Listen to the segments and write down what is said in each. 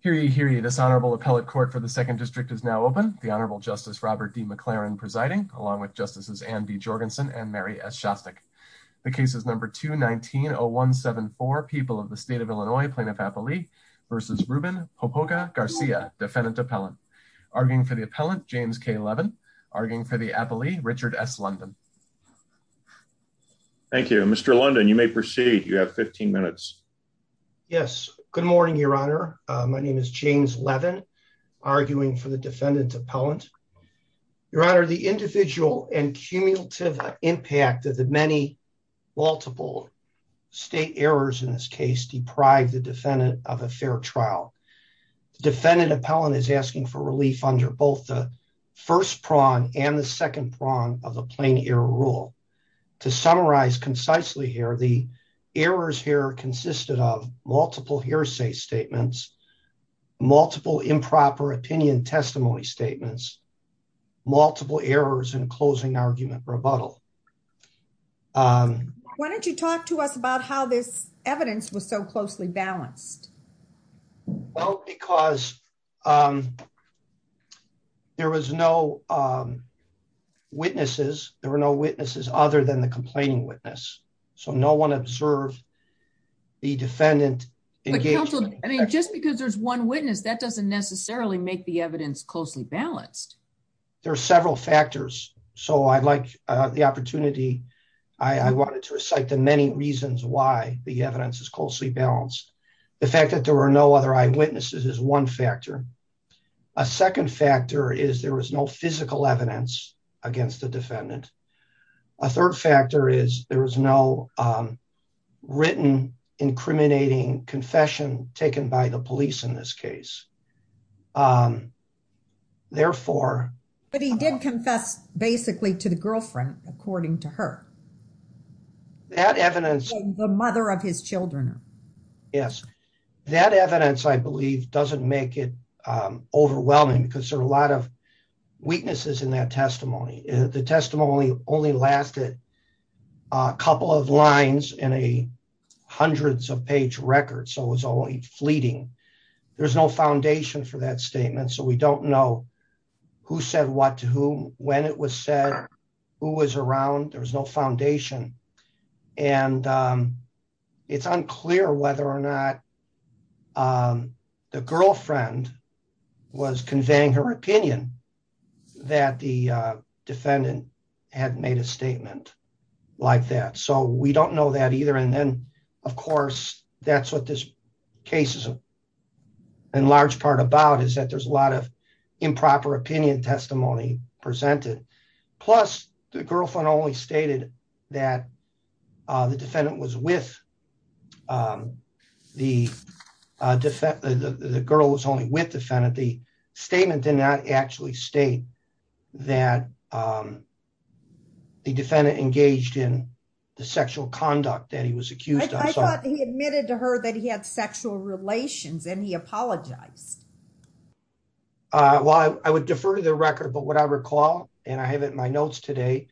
Hear ye, hear ye. This Honorable Appellate Court for the 2nd District is now open. The Honorable Justice Robert D. McLaren presiding, along with Justices Anne B. Jorgensen and Mary S. Shostak. The case is No. 2-19-0174, People of the State of Illinois, Plaintiff-Appellee v. Ruben Popoca-Garcia, Defendant-Appellant. Arguing for the Appellant, James K. Levin. Arguing for the Appellee, Richard S. London. Thank you. Mr. London, you may proceed. You have 15 minutes. Yes. Good morning, Your Honor. My name is James Levin. Arguing for the Defendant-Appellant. Your Honor, the individual and cumulative impact of the many multiple state errors in this case deprive the defendant of a fair trial. The Defendant-Appellant is asking for relief under both the first prong and the second prong of the Plain Error Rule. To summarize concisely here, the errors here consisted of multiple hearsay statements, multiple improper opinion testimony statements, multiple errors in closing argument rebuttal. Why don't you talk to us about how this evidence was so closely balanced? Well, because there was no witnesses. There were no witnesses other than the complaining witness. So no one observed the defendant engaging. I mean, just because there's one witness, that doesn't necessarily make the evidence closely balanced. There are several factors. So I'd like the opportunity. I wanted to recite the many reasons why the evidence is closely balanced. The fact that there were no other eyewitnesses is one factor. A second factor is there was no physical evidence against the defendant. A third factor is there was no written incriminating confession taken by the police in this case. But he did confess basically to the girlfriend, according to her. That evidence. The mother of his children. Yes, that evidence, I believe, doesn't make it overwhelming because there are a lot of weaknesses in that testimony. The testimony only lasted a couple of lines in a hundreds of page record. So it was only fleeting. There's no foundation for that statement. So we don't know who said what to whom, when it was said, who was around. There was no foundation. And it's unclear whether or not the girlfriend was conveying her opinion that the defendant had made a statement like that. So we don't know that either. And then, of course, that's what this case is in large part about is that there's a lot of improper opinion testimony presented. Plus, the girlfriend only stated that the defendant was with the girl was only with defendant. The statement did not actually state that the defendant engaged in the sexual conduct that he was accused of. I thought he admitted to her that he had sexual relations and he apologized. Well, I would defer to the record. But what I recall, and I have it in my notes today,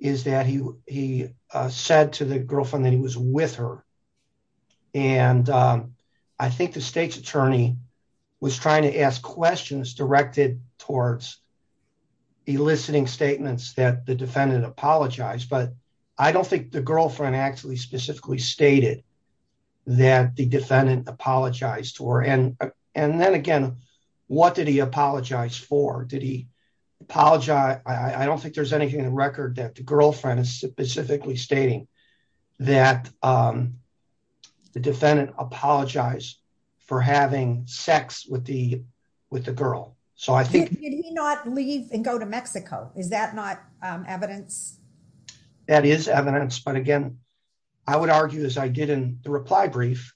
is that he said to the girlfriend that he was with her. And I think the state's attorney was trying to ask questions directed towards eliciting statements that the defendant apologized. But I don't think the girlfriend actually specifically stated that the defendant apologized to her. And and then again, what did he apologize for? Did he apologize? I don't think there's anything in the record that the girlfriend is specifically stating that the defendant apologized for having sex with the with the girl. So I think not leave and go to Mexico. Is that not evidence? That is evidence. But again, I would argue, as I did in the reply brief,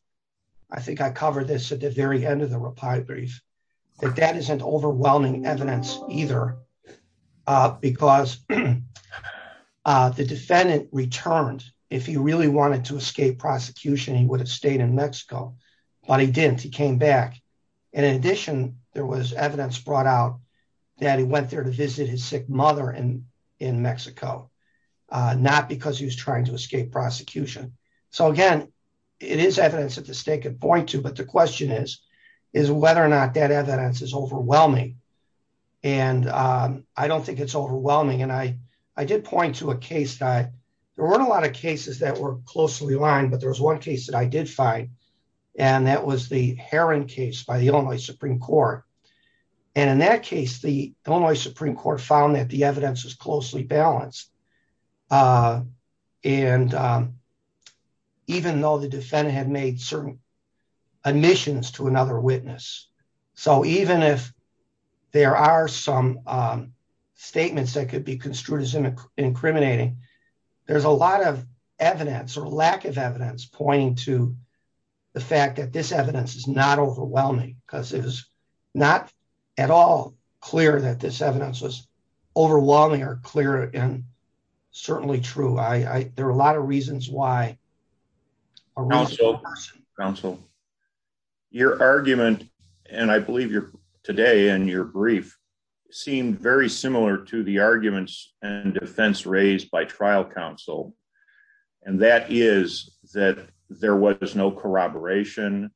I think I covered this at the very end of the reply brief. But that isn't overwhelming evidence either, because the defendant returned. If he really wanted to escape prosecution, he would have stayed in Mexico, but he didn't. He came back. And in addition, there was evidence brought out that he went there to visit his sick mother in in Mexico, not because he was trying to escape prosecution. So, again, it is evidence that the state could point to. But the question is, is whether or not that evidence is overwhelming. And I don't think it's overwhelming. And I I did point to a case that there weren't a lot of cases that were closely aligned. But there was one case that I did find, and that was the Heron case by the Illinois Supreme Court. And in that case, the Illinois Supreme Court found that the evidence was closely balanced. And even though the defendant had made certain omissions to another witness. So even if there are some statements that could be construed as incriminating, there's a lot of evidence or lack of evidence pointing to the fact that this evidence is not overwhelming. Because it was not at all clear that this evidence was overwhelming or clear and certainly true. I there are a lot of reasons why. Counsel. Your argument, and I believe you're today and your brief seemed very similar to the arguments and defense raised by trial counsel. And that is that there was no corroboration.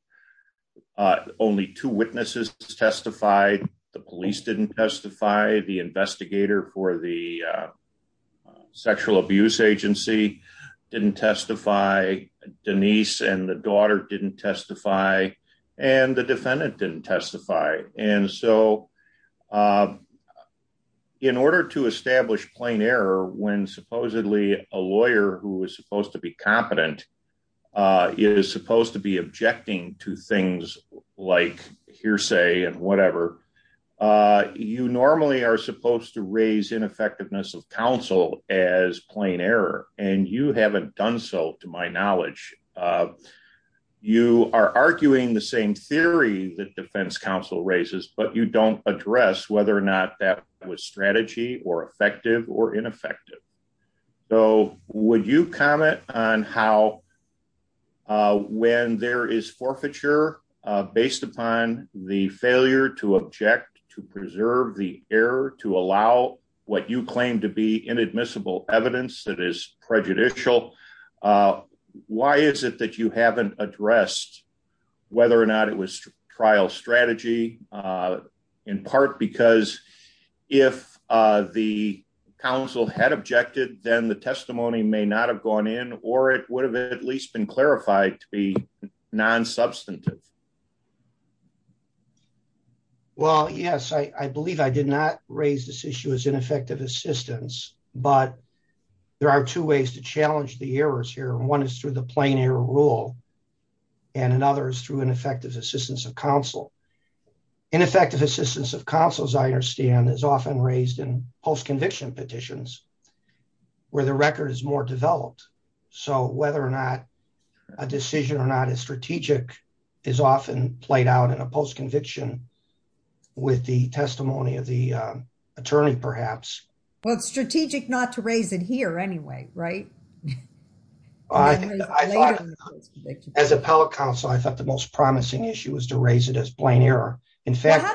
Only two witnesses testified. The police didn't testify. The investigator for the sexual abuse agency didn't testify. Denise and the daughter didn't testify. And the defendant didn't testify. Right. And so, in order to establish plain error when supposedly a lawyer who is supposed to be competent is supposed to be objecting to things like hearsay and whatever. You normally are supposed to raise ineffectiveness of counsel as plain error, and you haven't done so, to my knowledge. You are arguing the same theory that defense counsel raises but you don't address whether or not that was strategy or effective or ineffective. So, would you comment on how when there is forfeiture, based upon the failure to object to preserve the air to allow what you claim to be inadmissible evidence that is prejudicial. Why is it that you haven't addressed, whether or not it was trial strategy, in part because if the council had objected, then the testimony may not have gone in, or it would have at least been clarified to be non substantive. Well, yes, I believe I did not raise this issue as ineffective assistance, but there are two ways to challenge the errors here and one is through the plain error rule, and another is through an effective assistance of counsel. Ineffective assistance of counsel, as I understand, is often raised in post conviction petitions, where the record is more developed. So whether or not a decision or not as strategic is often played out in a post conviction with the testimony of the attorney, perhaps. Well, it's strategic not to raise it here anyway, right. I thought as appellate counsel, I thought the most promising issue was to raise it as plain error. In fact,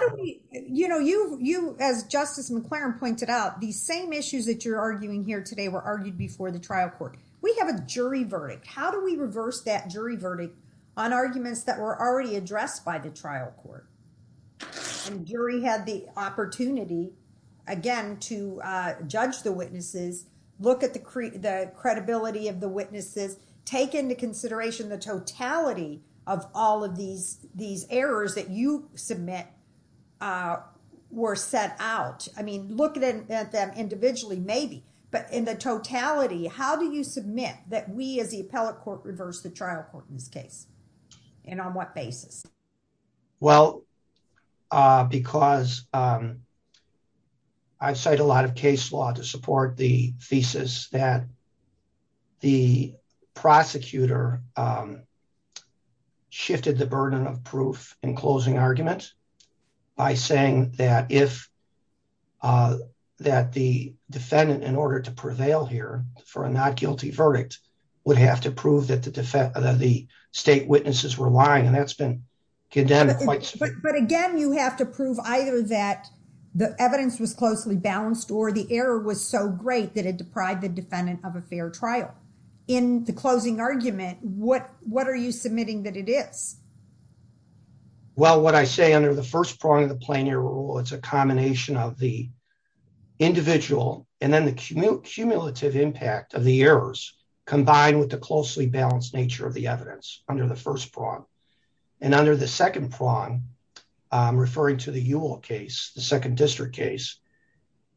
you know, you, you, as justice McLaren pointed out the same issues that you're arguing here today were argued before the trial court. We have a jury verdict. How do we reverse that jury verdict on arguments that were already addressed by the trial court. And jury had the opportunity. Again, to judge the witnesses, look at the credibility of the witnesses take into consideration the totality of all of these, these errors that you submit. Were set out, I mean, looking at them individually, maybe, but in the totality, how do you submit that we, as the appellate court reverse the trial court in this case. And on what basis. Well, because I've said a lot of case law to support the thesis that the prosecutor shifted the burden of proof in closing arguments by saying that if that the defendant in order to prevail here for a not guilty verdict would have to prove that the defense state witnesses were lying and that's been condemned. But again, you have to prove either that the evidence was closely balanced or the error was so great that it deprived the defendant of a fair trial in the closing argument, what, what are you submitting that it is. Well, what I say under the first prong of the plan your rule, it's a combination of the individual, and then the cumulative impact of the errors, combined with the closely balanced nature of the evidence under the first prong. And under the second prong referring to the UL case, the second district case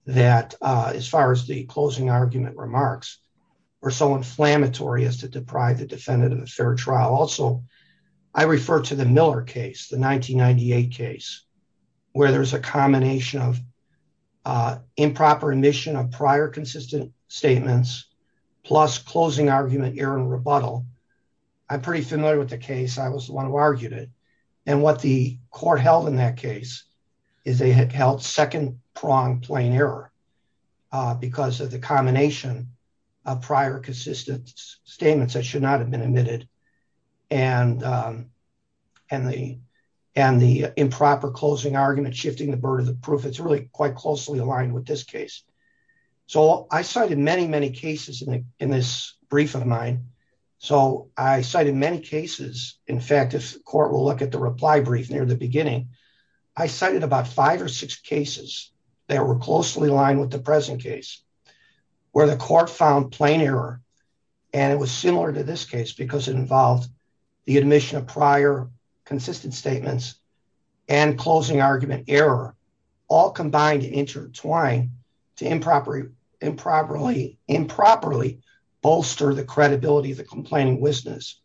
that as far as the closing argument remarks are so inflammatory as to deprive the defendant of a fair trial. Also, I refer to the Miller case the 1998 case where there's a combination of improper admission of prior consistent statements, plus closing argument Aaron rebuttal. I'm pretty familiar with the case I was the one who argued it. And what the court held in that case is they had held second prong plain error, because of the combination of prior consistent statements that should not have been admitted. And, and the, and the improper closing argument shifting the burden of proof it's really quite closely aligned with this case. So I cited many, many cases in the, in this brief of mine. So I cited many cases. In fact, if the court will look at the reply brief near the beginning. I cited about five or six cases that were closely aligned with the present case, where the court found plain error. And it was similar to this case because it involved the admission of prior consistent statements and closing argument error, all combined intertwined to improper improperly improperly bolster the credibility of the complaining business.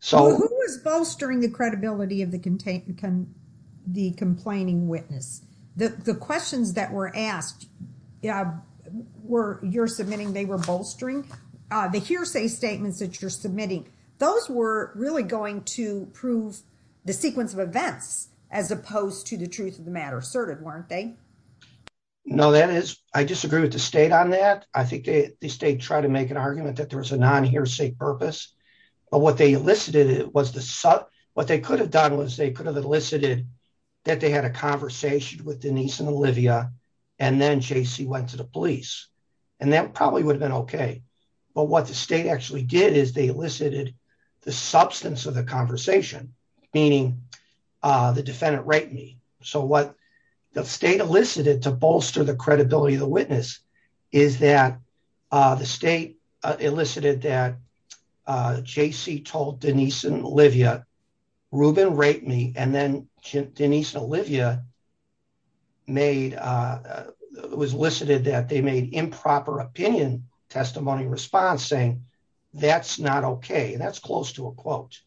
So, who was bolstering the credibility of the contain the complaining witness the questions that were asked. Yeah, were you're submitting they were bolstering the hearsay statements that you're submitting. Those were really going to prove the sequence of events as opposed to the truth of the matter asserted weren't they. No, that is, I disagree with the state on that. I think the state tried to make an argument that there was a non hearsay purpose. But what they elicited it was the sub, what they could have done was they could have elicited that they had a conversation with Denise and Olivia, and then JC went to the police, and that probably would have been okay. But what the state actually did is they elicited the substance of the conversation, meaning the defendant right me. So what the state elicited to bolster the credibility of the witness is that the state elicited that JC told Denise and Olivia Rubin rate me and then Denise Olivia made was listed that they made improper opinion testimony response saying that's not okay and that's close to a quote.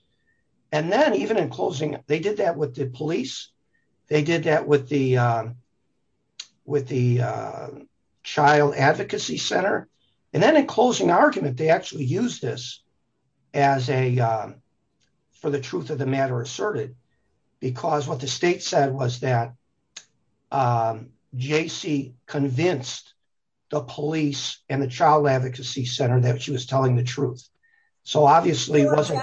And then even in closing, they did that with the police. They did that with the with the Child Advocacy Center, and then in closing argument they actually use this as a for the truth of the matter asserted, because what the state said was that JC convinced the police and the Child Advocacy Center that she was telling the truth. So obviously wasn't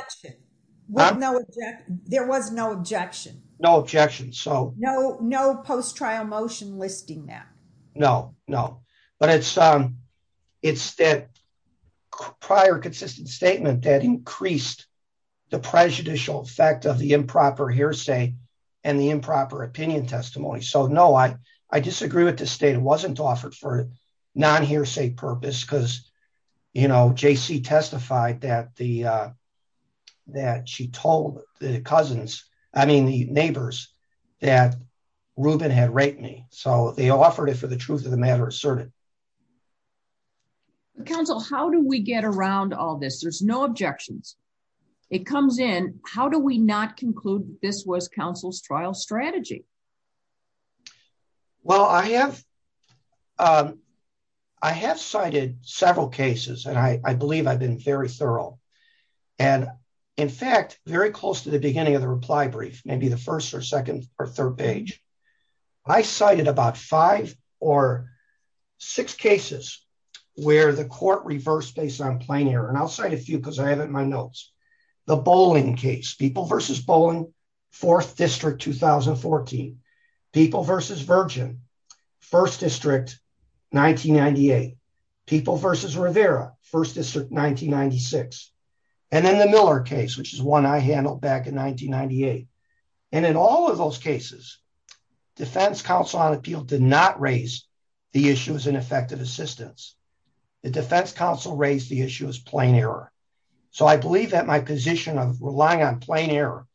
there was no objection, no objection so no no post trial motion listing that. No, no, but it's, it's that prior consistent statement that increased the prejudicial effect of the improper hearsay, and the improper opinion testimony so no I, I disagree with the state wasn't offered for non hearsay purpose because, you know, JC testified that the that she told the cousins. I mean the neighbors that Ruben had raped me, so they offered it for the truth of the matter asserted. Council, how do we get around all this there's no objections. It comes in, how do we not conclude this was Council's trial strategy. Well I have. I have cited several cases and I believe I've been very thorough. And in fact, very close to the beginning of the reply brief, maybe the first or second or third page. I cited about five or six cases where the court reverse based on plain air and outside a few because I haven't my notes. The bowling case people versus bowling fourth district 2014 people versus virgin first district 1998 people versus Rivera first district 1996. And then the Miller case which is one I handled back in 1998. And in all of those cases, defense counsel on appeal did not raise the issues and effective assistance. The defense counsel raised the issue is plain error. So I believe that my position of relying on plain air,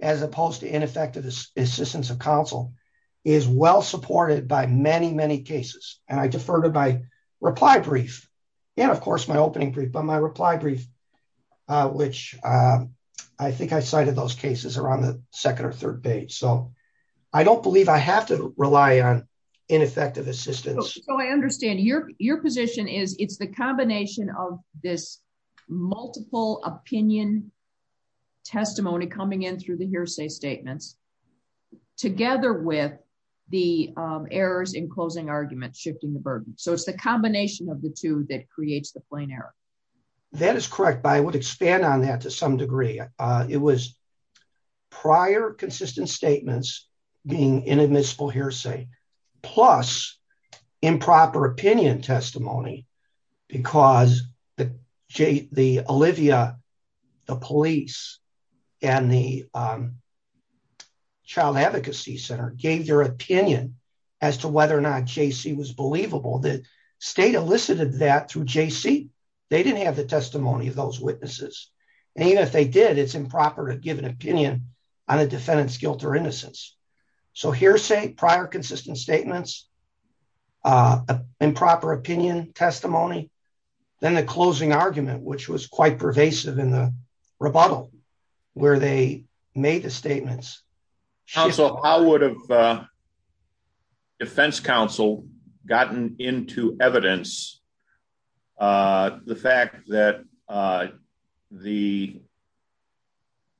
as opposed to ineffective assistance of counsel is well supported by many, many cases, and I defer to my reply brief. And of course my opening brief on my reply brief, which I think I cited those cases around the second or third page so I don't believe I have to rely on ineffective assistance. So I understand your, your position is it's the combination of this multiple opinion testimony coming in through the hearsay statements, together with the errors in closing argument shifting the burden, so it's the combination of the two that creates the plane error. That is correct by would expand on that to some degree. It was prior consistent statements, being inadmissible hearsay, plus improper opinion testimony, because the J. The, the Olivia, the police, and the Child Advocacy Center gave your opinion as to whether or not JC was believable that state elicited that through JC, they didn't have the testimony of those witnesses. And even if they did it's improper to give an opinion on a defendant's guilt or innocence. So hearsay prior consistent statements, improper opinion testimony, then the closing argument which was quite pervasive in the rebuttal, where they made the statements. So how would have Defense Counsel gotten into evidence. The fact that the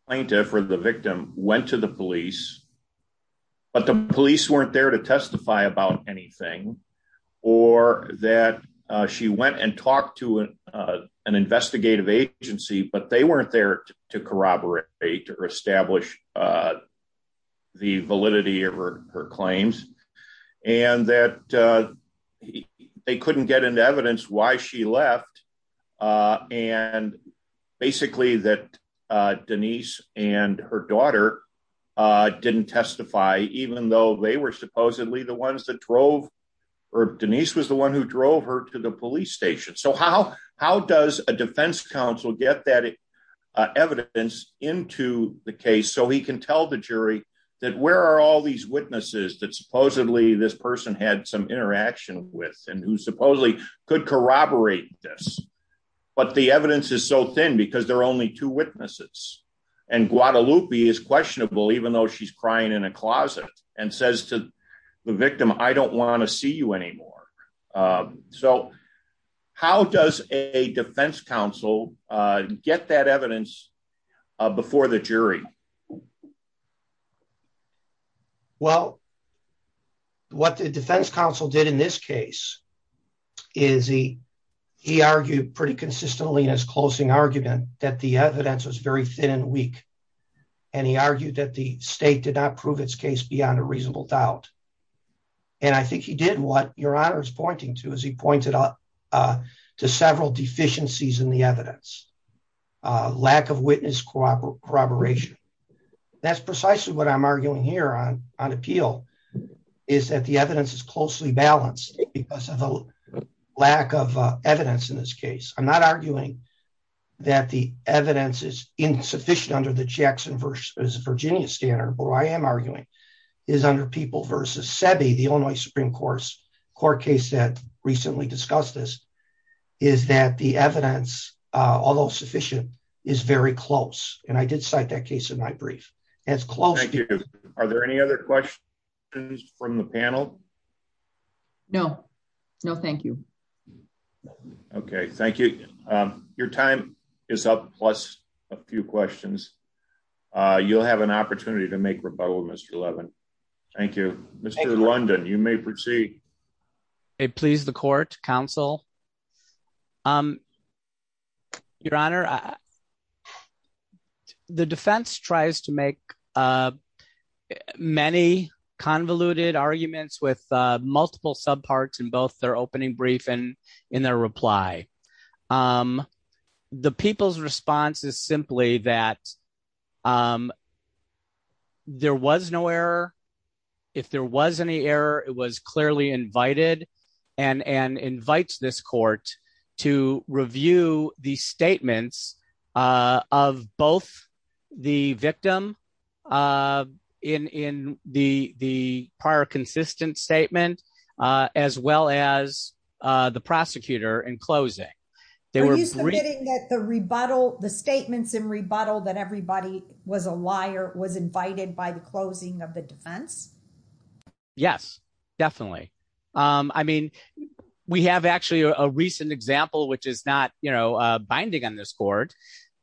plaintiff or the victim went to the police, but the police weren't there to testify about anything, or that she went and talked to an investigative agency but they weren't there to corroborate or establish the validity of her claims, and that they couldn't get into evidence why she left. And basically that Denise, and her daughter didn't testify, even though they were supposedly the ones that drove or Denise was the one who drove her to the police station so how, how does a defense counsel get that evidence into the case so he can tell the jury that where are all these witnesses that supposedly this person had some interaction with and who supposedly could corroborate this, but the evidence is so thin because they're only two witnesses and Guadalupe is questionable even though she's crying in a closet and says to the victim, I don't want to see you anymore. So, how does a defense counsel, get that evidence before the jury. Well, what the defense counsel did in this case is he, he argued pretty consistently in his closing argument that the evidence was very thin and weak, and he argued that the state did not prove its case beyond a reasonable doubt. And I think he did what your honor is pointing to as he pointed out to several deficiencies in the evidence, lack of witness corroboration. That's precisely what I'm arguing here on on appeal, is that the evidence is closely balanced because of a lack of evidence in this case, I'm not arguing that the evidence is insufficient under the Jackson versus Virginia standard but I am arguing is under the Illinois Supreme Court's court case that recently discussed this is that the evidence, although sufficient is very close, and I did cite that case in my brief, as close to. Are there any other questions from the panel. No, no, thank you. Okay, thank you. Your time is up plus a few questions. You'll have an opportunity to make rebuttal Mr. 11. Thank you, Mr. London, you may proceed. Please the court counsel. Your Honor. The defense tries to make many convoluted arguments with multiple subparts and both their opening brief and in their reply. The people's response is simply that there was no error. If there was any error, it was clearly invited and and invites this court to review the statements of both the victim in in the, the prior consistent statement, as well as the prosecutor and closing. The rebuttal the statements in rebuttal that everybody was a liar was invited by the closing of the defense. Yes, definitely. I mean, we have actually a recent example which is not, you know, binding on this court,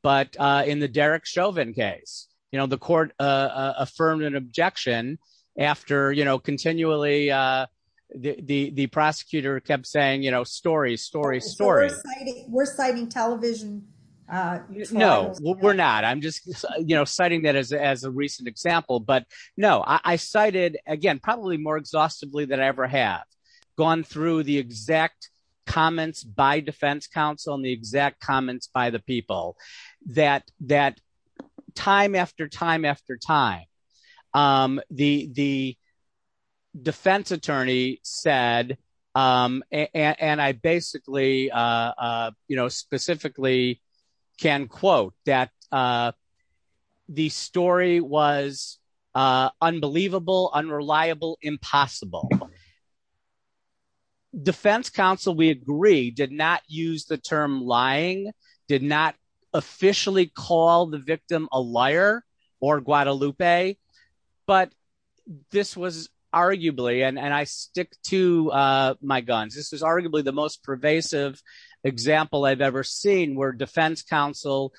but in the Derek Chauvin case, you know the court affirmed an objection. You know, continually, the prosecutor kept saying, you know, story story story. We're citing television. No, we're not I'm just, you know, citing that as as a recent example but no I cited again probably more exhaustively than ever have gone through the exact comments by defense counsel and the exact comments by the people that that time after time after time. The the defense attorney said, and I basically, you know, specifically can quote that the story was unbelievable unreliable impossible. Defense counsel we agree did not use the term lying did not officially call the victim, a liar, or Guadalupe, but this was arguably and I stick to my guns, this is arguably the most pervasive example I've ever seen where defense counsel,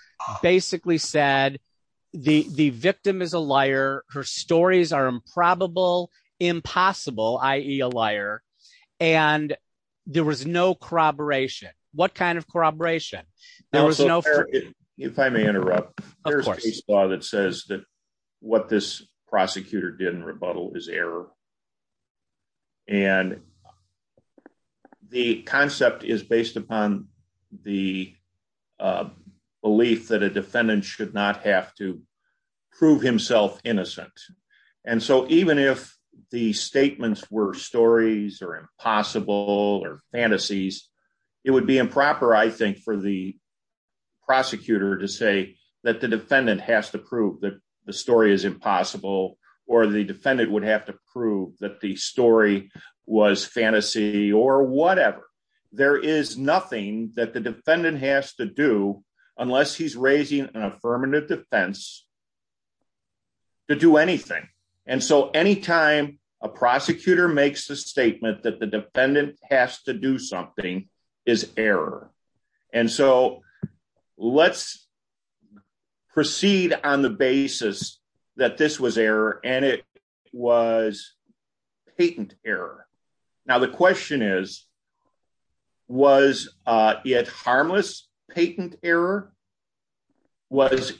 basically said, the, the victim is a liar, her stories are improbable, impossible. IE a liar, and there was no corroboration, what kind of corroboration. If I may interrupt that says that what this prosecutor didn't rebuttal is error. And the concept is based upon the belief that a defendant should not have to prove himself innocent. And so even if the statements were stories are impossible or fantasies. It would be improper I think for the prosecutor to say that the defendant has to prove that the story is impossible, or the defendant would have to prove that the story was fantasy or whatever. There is nothing that the defendant has to do, unless he's raising an affirmative defense to do anything. And so anytime a prosecutor makes the statement that the defendant has to do something is error. And so, let's proceed on the basis that this was error, and it was patent error. Now the question is, was it harmless patent error. Was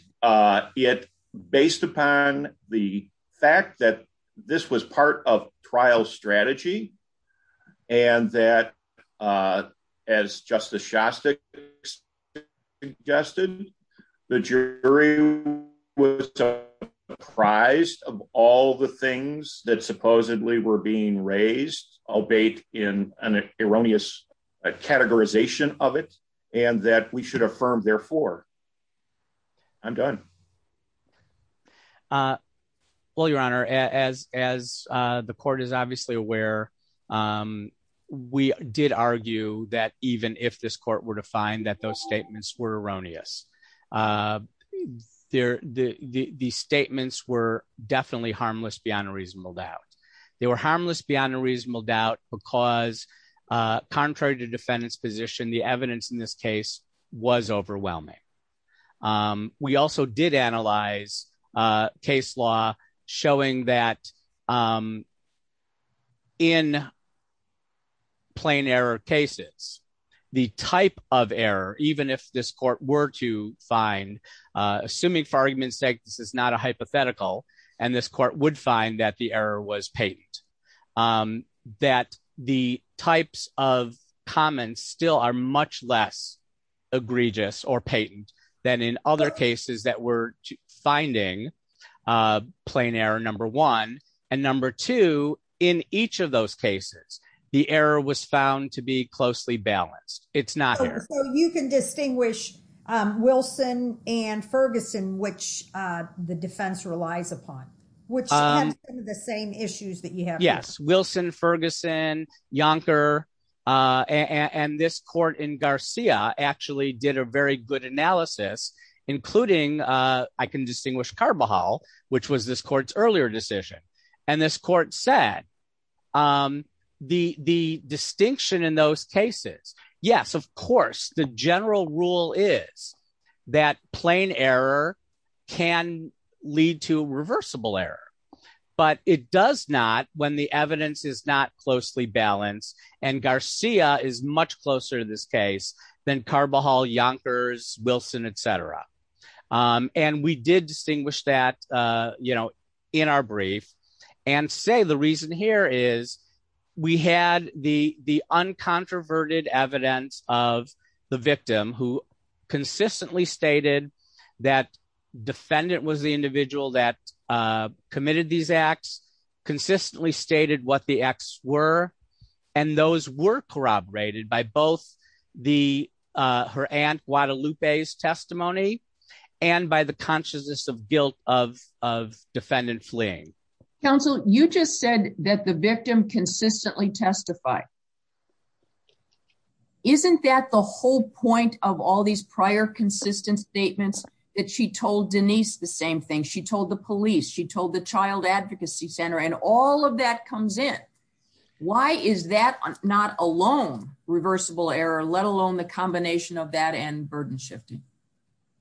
it based upon the fact that this was part of trial strategy, and that as Justice Shostak suggested, the jury was surprised of all the things that supposedly were being raised, albeit in an erroneous categorization of it, and that we should I'm done. Well, Your Honor, as, as the court is obviously aware, we did argue that even if this court were to find that those statements were erroneous. There, the statements were definitely harmless beyond a reasonable doubt. They were harmless beyond a reasonable doubt, because contrary to defendants position the evidence in this case was overwhelming. We also did analyze case law, showing that in plain error cases, the type of error, even if this court were to find, assuming for argument's sake this is not a hypothetical, and this court would find that the error was patent, that the types of comments still are much less egregious or patent than in other cases that we're finding plain error number one, and number two, in each of those cases, the error was found to be closely balanced, it's not. So you can distinguish Wilson and Ferguson, which the defense relies upon, which are the same issues that you have. Yes, Wilson, Ferguson, Yonker, and this court in Garcia actually did a very good analysis, including. I can distinguish Carbajal, which was this court's earlier decision, and this court said the distinction in those cases. Yes, of course, the general rule is that plain error can lead to reversible error, but it does not when the evidence is not closely balanced and Garcia is much closer to this case than Carbajal, Yonkers, Wilson, etc. And we did distinguish that in our brief and say the reason here is we had the uncontroverted evidence of the victim who consistently stated that defendant was the individual that committed these acts, consistently stated what the acts were, and those were corroborated by both her aunt Guadalupe's testimony and by the consciousness of guilt of defendant fleeing. Counsel, you just said that the victim consistently testify. Isn't that the whole point of all these prior consistent statements that she told Denise the same thing she told the police she told the Child Advocacy Center and all of that comes in. Why is that not alone, reversible error, let alone the combination of that and burden shifting.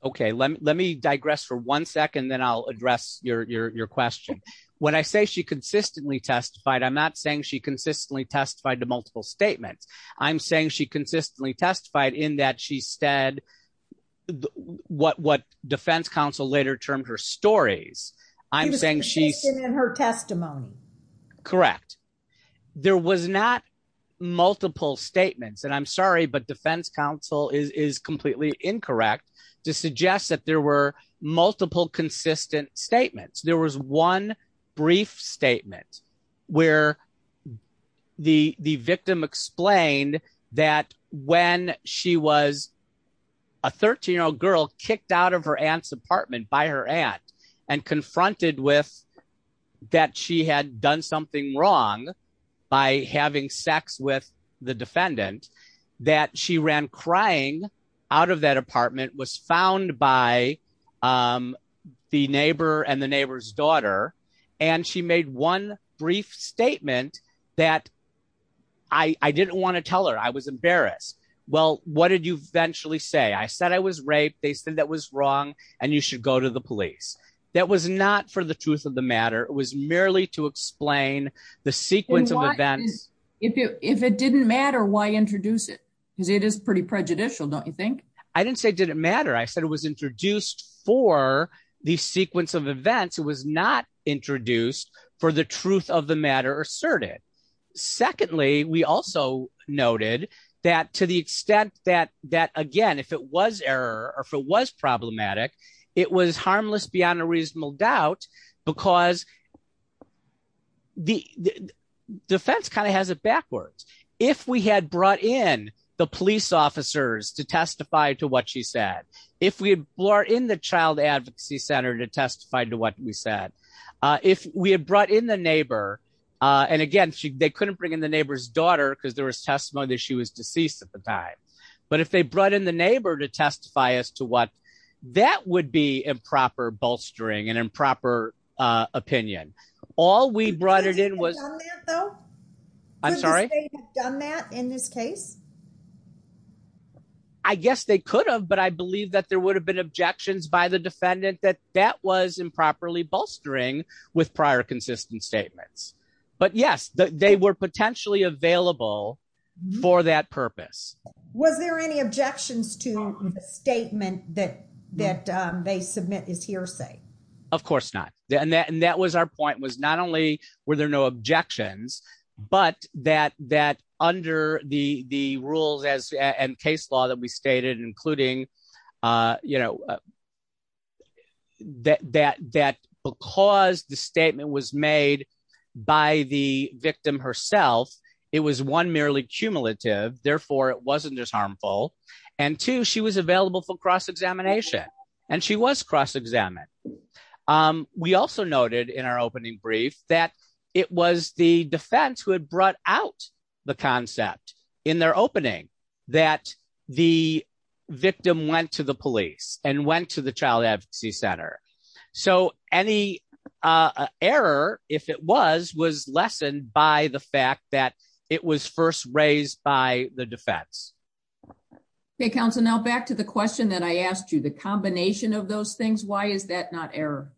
Okay, let me digress for one second then I'll address your question. When I say she consistently testified I'm not saying she consistently testified to multiple statements. I'm saying she consistently testified in that she said what what defense counsel later termed her stories. I'm saying she's in her testimony. Correct. There was not multiple statements and I'm sorry but defense counsel is completely incorrect to suggest that there were multiple consistent statements there was one brief statement where the the victim explained that when she was a 13 year old girl kicked out of her aunt's apartment by her aunt and confronted that she had done something wrong by having sex with the defendant that she ran crying out of that apartment was found by the neighbor and the neighbor's daughter, and she made one brief statement that I didn't want to tell her I was embarrassed. Well, what did you eventually say I said I was raped they said that was wrong, and you should go to the police. That was not for the truth of the matter, it was merely to explain the sequence of events. If it didn't matter why introduce it, because it is pretty prejudicial don't you think, I didn't say didn't matter I said it was introduced for the sequence of events it was not introduced for the truth of the matter asserted. Secondly, we also noted that to the extent that that again if it was error, or if it was problematic. It was harmless beyond a reasonable doubt, because the defense kind of has it backwards. If we had brought in the police officers to testify to what she said, if we were in the child advocacy center to testify to what we said, if we had brought in the neighbor. And again, they couldn't bring in the neighbor's daughter because there was testimony that she was deceased at the time. But if they brought in the neighbor to testify as to what that would be improper bolstering and improper opinion. All we brought it in was, though, I'm sorry, done that in this case, I guess they could have but I believe that there would have been objections by the defendant that that was improperly bolstering with prior consistent statements. But yes, they were potentially available for that purpose. Was there any objections to the statement that that they submit is hearsay. Of course not. And that and that was our point was not only were there no objections, but that that under the the rules as and case law that we stated including, you know, that that that because the statement was made by the victim herself. It was one merely cumulative, therefore it wasn't as harmful. And to she was available for cross examination, and she was cross examine. We also noted in our opening brief that it was the defense who had brought out the concept in their opening that the victim went to the police and went to the child advocacy center. So, any error, if it was was lessened by the fact that it was first raised by the defense. Okay, Council now back to the question that I asked you the combination of those things. Why is that not error.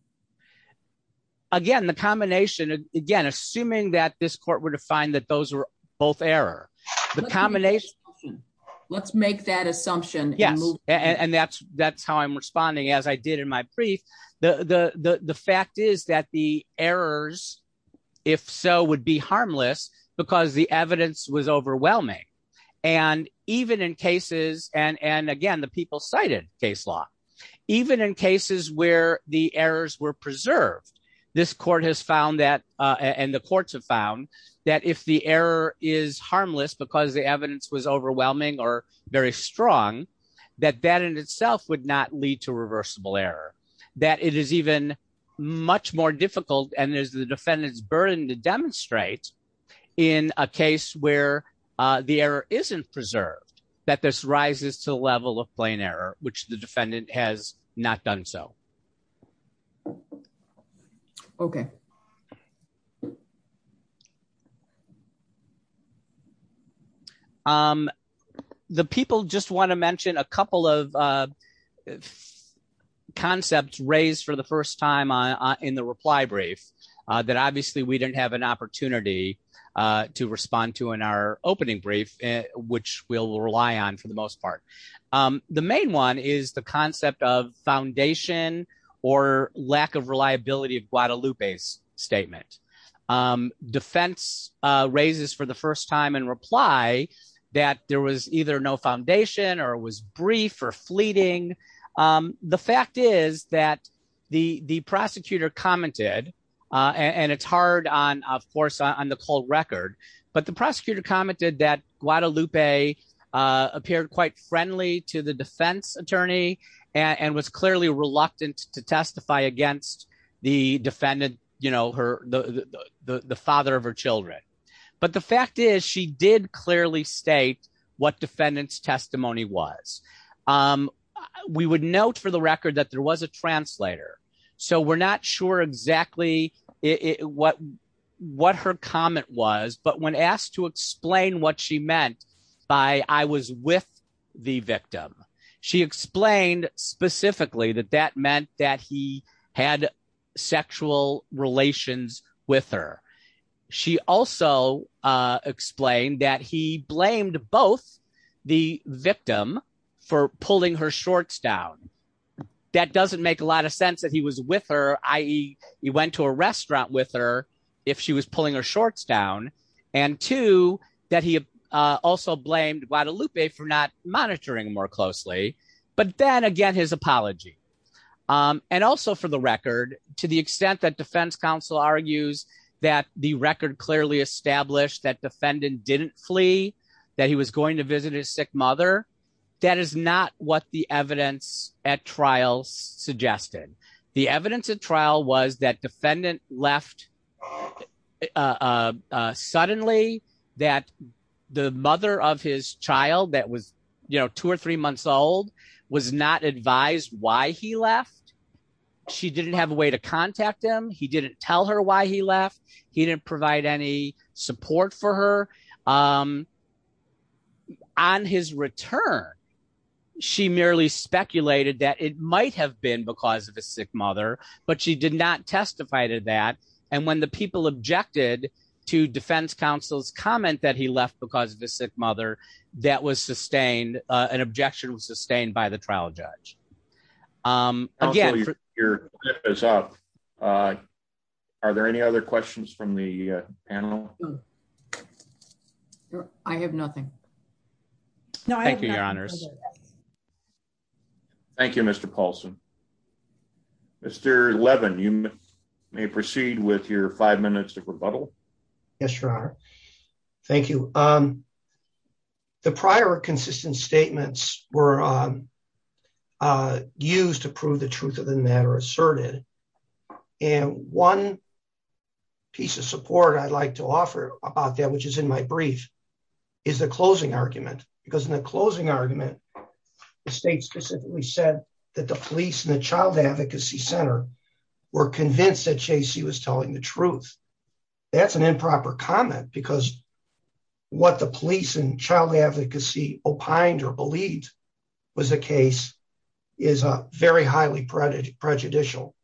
Again, the combination. Again, assuming that this court were to find that those were both error. The combination. Let's make that assumption. Yes. And that's, that's how I'm responding as I did in my brief, the, the, the fact is that the errors. If so would be harmless, because the evidence was overwhelming. And even in cases, and and again the people cited case law, even in cases where the errors were preserved. This court has found that, and the courts have found that if the error is harmless because the evidence was overwhelming or very strong, that that in itself would not lead to reversible error, that it is even much more difficult and there's the defendants burden to demonstrate in a case where the error isn't preserved, that this rises to level of plain error, which the defendant has not done so. Okay. The people just want to mention a couple of concepts raised for the first time on in the reply brief that obviously we didn't have an opportunity to respond to in our opening brief, which will rely on for the most part. The main one is the concept of foundation, or lack of reliability of Guadalupe's statement defense raises for the first time and reply that there was either no foundation or was brief or fleeting. The fact is that the the prosecutor commented, and it's hard on, of course, on the cold record, but the prosecutor commented that Guadalupe appeared quite friendly to the defense attorney, and was clearly reluctant to testify against the defendant, you know her, the father of her children. But the fact is she did clearly state what defendants testimony was. We would note for the record that there was a translator. So we're not sure exactly what what her comment was, but when asked to explain what she meant by I was with the victim. She explained specifically that that meant that he had sexual relations with her. She also explained that he blamed both the victim for pulling her shorts down. That doesn't make a lot of sense that he was with her. I went to a restaurant with her. If she was pulling her shorts down and to that, he also blamed Guadalupe for not monitoring more closely. But then again, his apology and also for the record, to the extent that defense counsel argues that the record clearly established that defendant didn't flee, that he was going to visit his sick mother. That is not what the evidence at trial suggested. The evidence at trial was that defendant left suddenly that the mother of his child that was, you know, two or three months old was not advised why he left. She didn't have a way to contact him. He didn't tell her why he left. He didn't provide any support for her. On his return, she merely speculated that it might have been because of a sick mother, but she did not testify to that. And when the people objected to defense counsel's comment that he left because of his sick mother, that was sustained. An objection was sustained by the trial judge. Your time is up. Are there any other questions from the panel? I have nothing. No, thank you, Your Honors. Thank you, Mr. Paulson. Mr. Levin, you may proceed with your five minutes of rebuttal. Yes, Your Honor. Thank you. The prior consistent statements were used to prove the truth of the matter asserted. And one piece of support I'd like to offer about that, which is in my brief, is the closing argument. Because in the closing argument, the state specifically said that the police and the child advocacy center were convinced that J.C. was telling the truth. That's an improper comment because what the police and child advocacy opined or believed was the case is very highly prejudicial.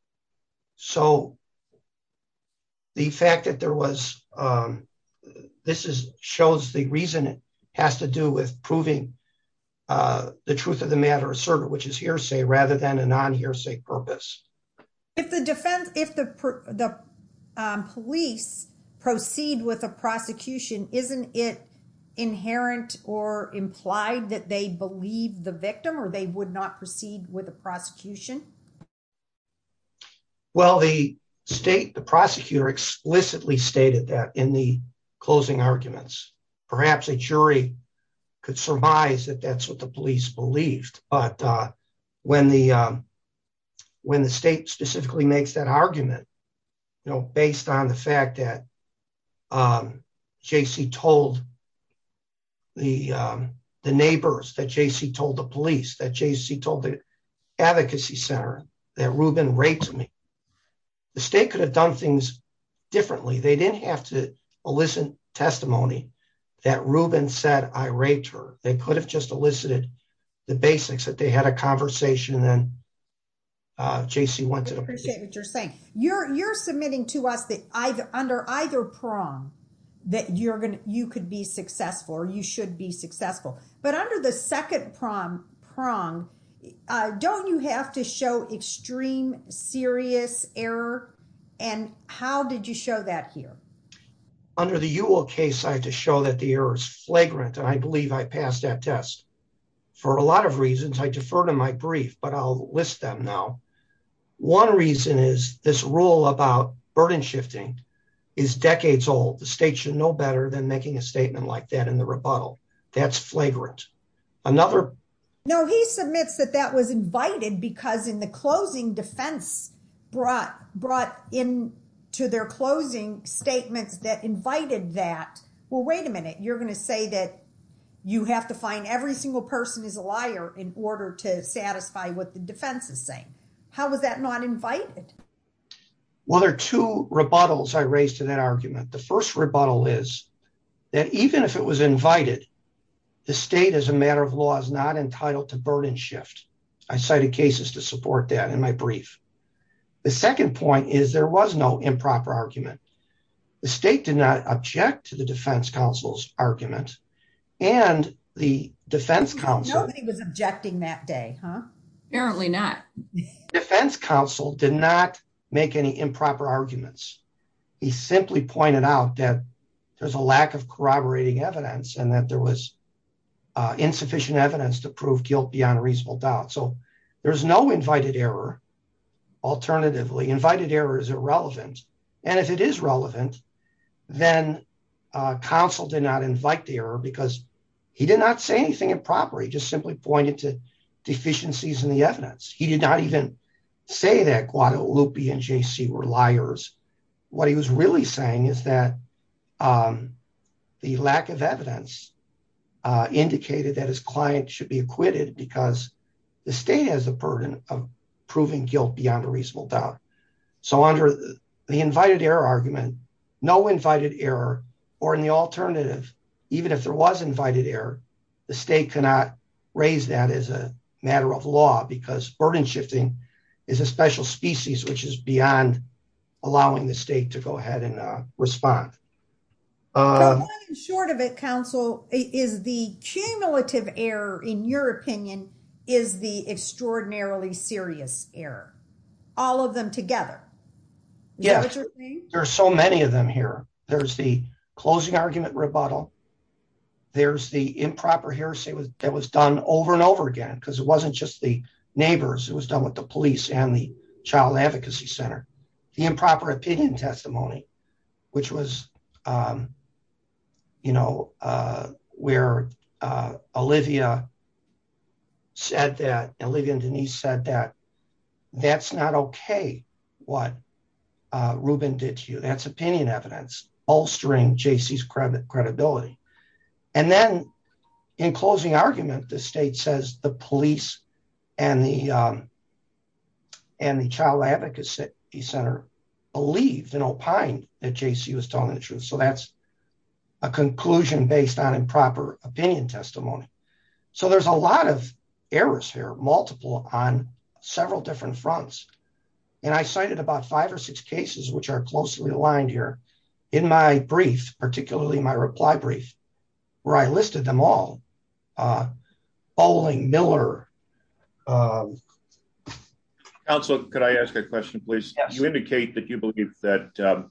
So. The fact that there was this is shows the reason it has to do with proving the truth of the matter asserted, which is hearsay rather than a non hearsay purpose. If the defense if the police proceed with a prosecution, isn't it inherent or implied that they believe the victim or they would not proceed with the prosecution? Well, the state, the prosecutor explicitly stated that in the closing arguments, perhaps a jury could surmise that that's what the police believed. But when the when the state specifically makes that argument, you know, based on the fact that J.C. told the the neighbors that J.C. told the police that J.C. told the advocacy center that Ruben raped me. The state could have done things differently. They didn't have to elicit testimony that Ruben said I raped her. They could have just elicited the basics that they had a conversation. I appreciate what you're saying. You're you're submitting to us that I've under either prong that you're going to you could be successful or you should be successful. But under the 2nd prong prong, don't you have to show extreme serious error? And how did you show that here? Under the Ewell case, I had to show that the error is flagrant, and I believe I passed that test for a lot of reasons. I defer to my brief, but I'll list them now. One reason is this rule about burden shifting is decades old. The state should know better than making a statement like that in the rebuttal. That's flagrant. No, he submits that that was invited because in the closing defense brought brought in to their closing statements that invited that. Well, wait a minute. You're going to say that you have to find every single person is a liar in order to satisfy what the defense is saying. How is that not invited? Well, there are 2 rebuttals I raised to that argument. The 1st rebuttal is that even if it was invited, the state, as a matter of law, is not entitled to burden shift. I cited cases to support that in my brief. The 2nd point is there was no improper argument. The state did not object to the defense counsel's argument. Nobody was objecting that day, huh? Apparently not. Defense counsel did not make any improper arguments. He simply pointed out that there's a lack of corroborating evidence and that there was insufficient evidence to prove guilt beyond a reasonable doubt. So there's no invited error. Alternatively, invited error is irrelevant. And if it is relevant, then counsel did not invite the error because he did not say anything improper. He just simply pointed to deficiencies in the evidence. He did not even say that Guadalupe and JC were liars. What he was really saying is that the lack of evidence indicated that his client should be acquitted because the state has a burden of proving guilt beyond a reasonable doubt. So under the invited error argument, no invited error, or in the alternative, even if there was invited error, the state cannot raise that as a matter of law because burden shifting is a special species, which is beyond allowing the state to go ahead and respond. Short of it, counsel, is the cumulative error, in your opinion, is the extraordinarily serious error. All of them together. Yeah, there's so many of them here. There's the closing argument rebuttal. There's the improper here. It was done over and over again because it wasn't just the neighbors. It was done with the police and the child advocacy center. The improper opinion testimony, which was, you know, where Olivia said that, and Olivia and Denise said that, that's not okay, what Ruben did to you. That's opinion evidence bolstering JC's credibility. And then in closing argument, the state says the police and the child advocacy center believed and opined that JC was telling the truth. So that's a conclusion based on improper opinion testimony. So there's a lot of errors here multiple on several different fronts. And I cited about five or six cases which are closely aligned here in my brief, particularly my reply brief, where I listed them all bowling Miller. Also, could I ask a question, please, you indicate that you believe that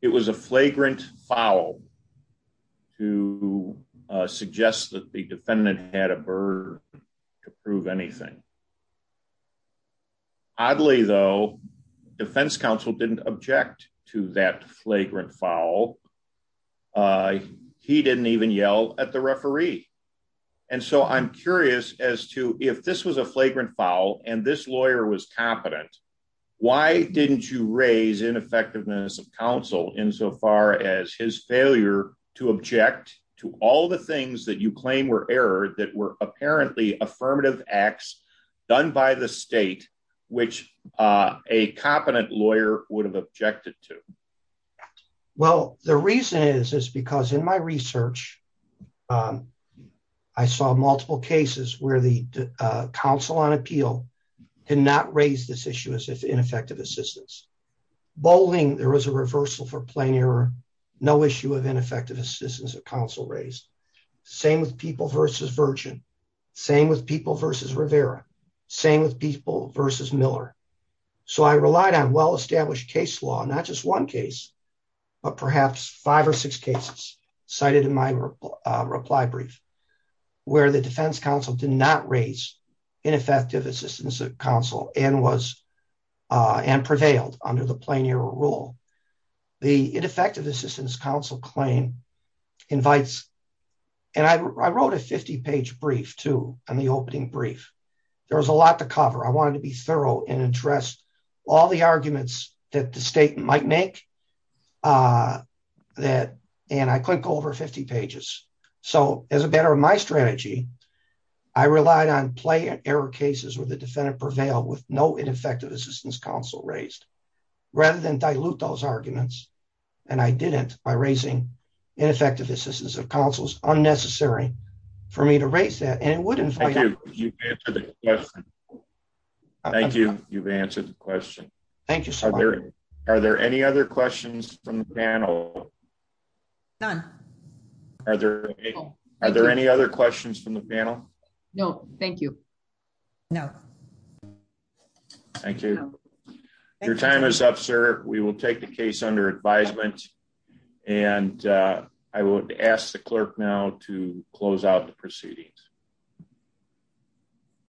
it was a flagrant foul to suggest that the defendant had a bird to prove anything. Oddly, though, defense counsel didn't object to that flagrant foul. He didn't even yell at the referee. And so I'm curious as to if this was a flagrant foul and this lawyer was competent. Why didn't you raise ineffectiveness of counsel in so far as his failure to object to all the things that you claim were error that were apparently affirmative acts done by the state, which a competent lawyer would have objected to. Well, the reason is, is because in my research, I saw multiple cases where the Council on Appeal did not raise this issue as if ineffective assistance. Bowling, there was a reversal for plain error, no issue of ineffective assistance of counsel raised. Same with people versus Virgin. Same with people versus Rivera, same with people versus Miller. So I relied on well-established case law, not just one case, but perhaps five or six cases cited in my reply brief, where the defense counsel did not raise ineffective assistance of counsel and prevailed under the plain error rule. The ineffective assistance counsel claim invites, and I wrote a 50-page brief, too, on the opening brief. There was a lot to cover. I wanted to be thorough and address all the arguments that the state might make that, and I couldn't go over 50 pages. So as a matter of my strategy, I relied on plain error cases where the defendant prevailed with no ineffective assistance counsel raised, rather than dilute those arguments. And I didn't by raising ineffective assistance of counsel is unnecessary for me to raise that, and it wouldn't. Thank you. You've answered the question. Thank you so much. Are there any other questions from the panel? None. Are there any other questions from the panel? No, thank you. No. Thank you. Your time is up, sir. We will take the case under advisement, and I would ask the clerk now to close out the proceedings.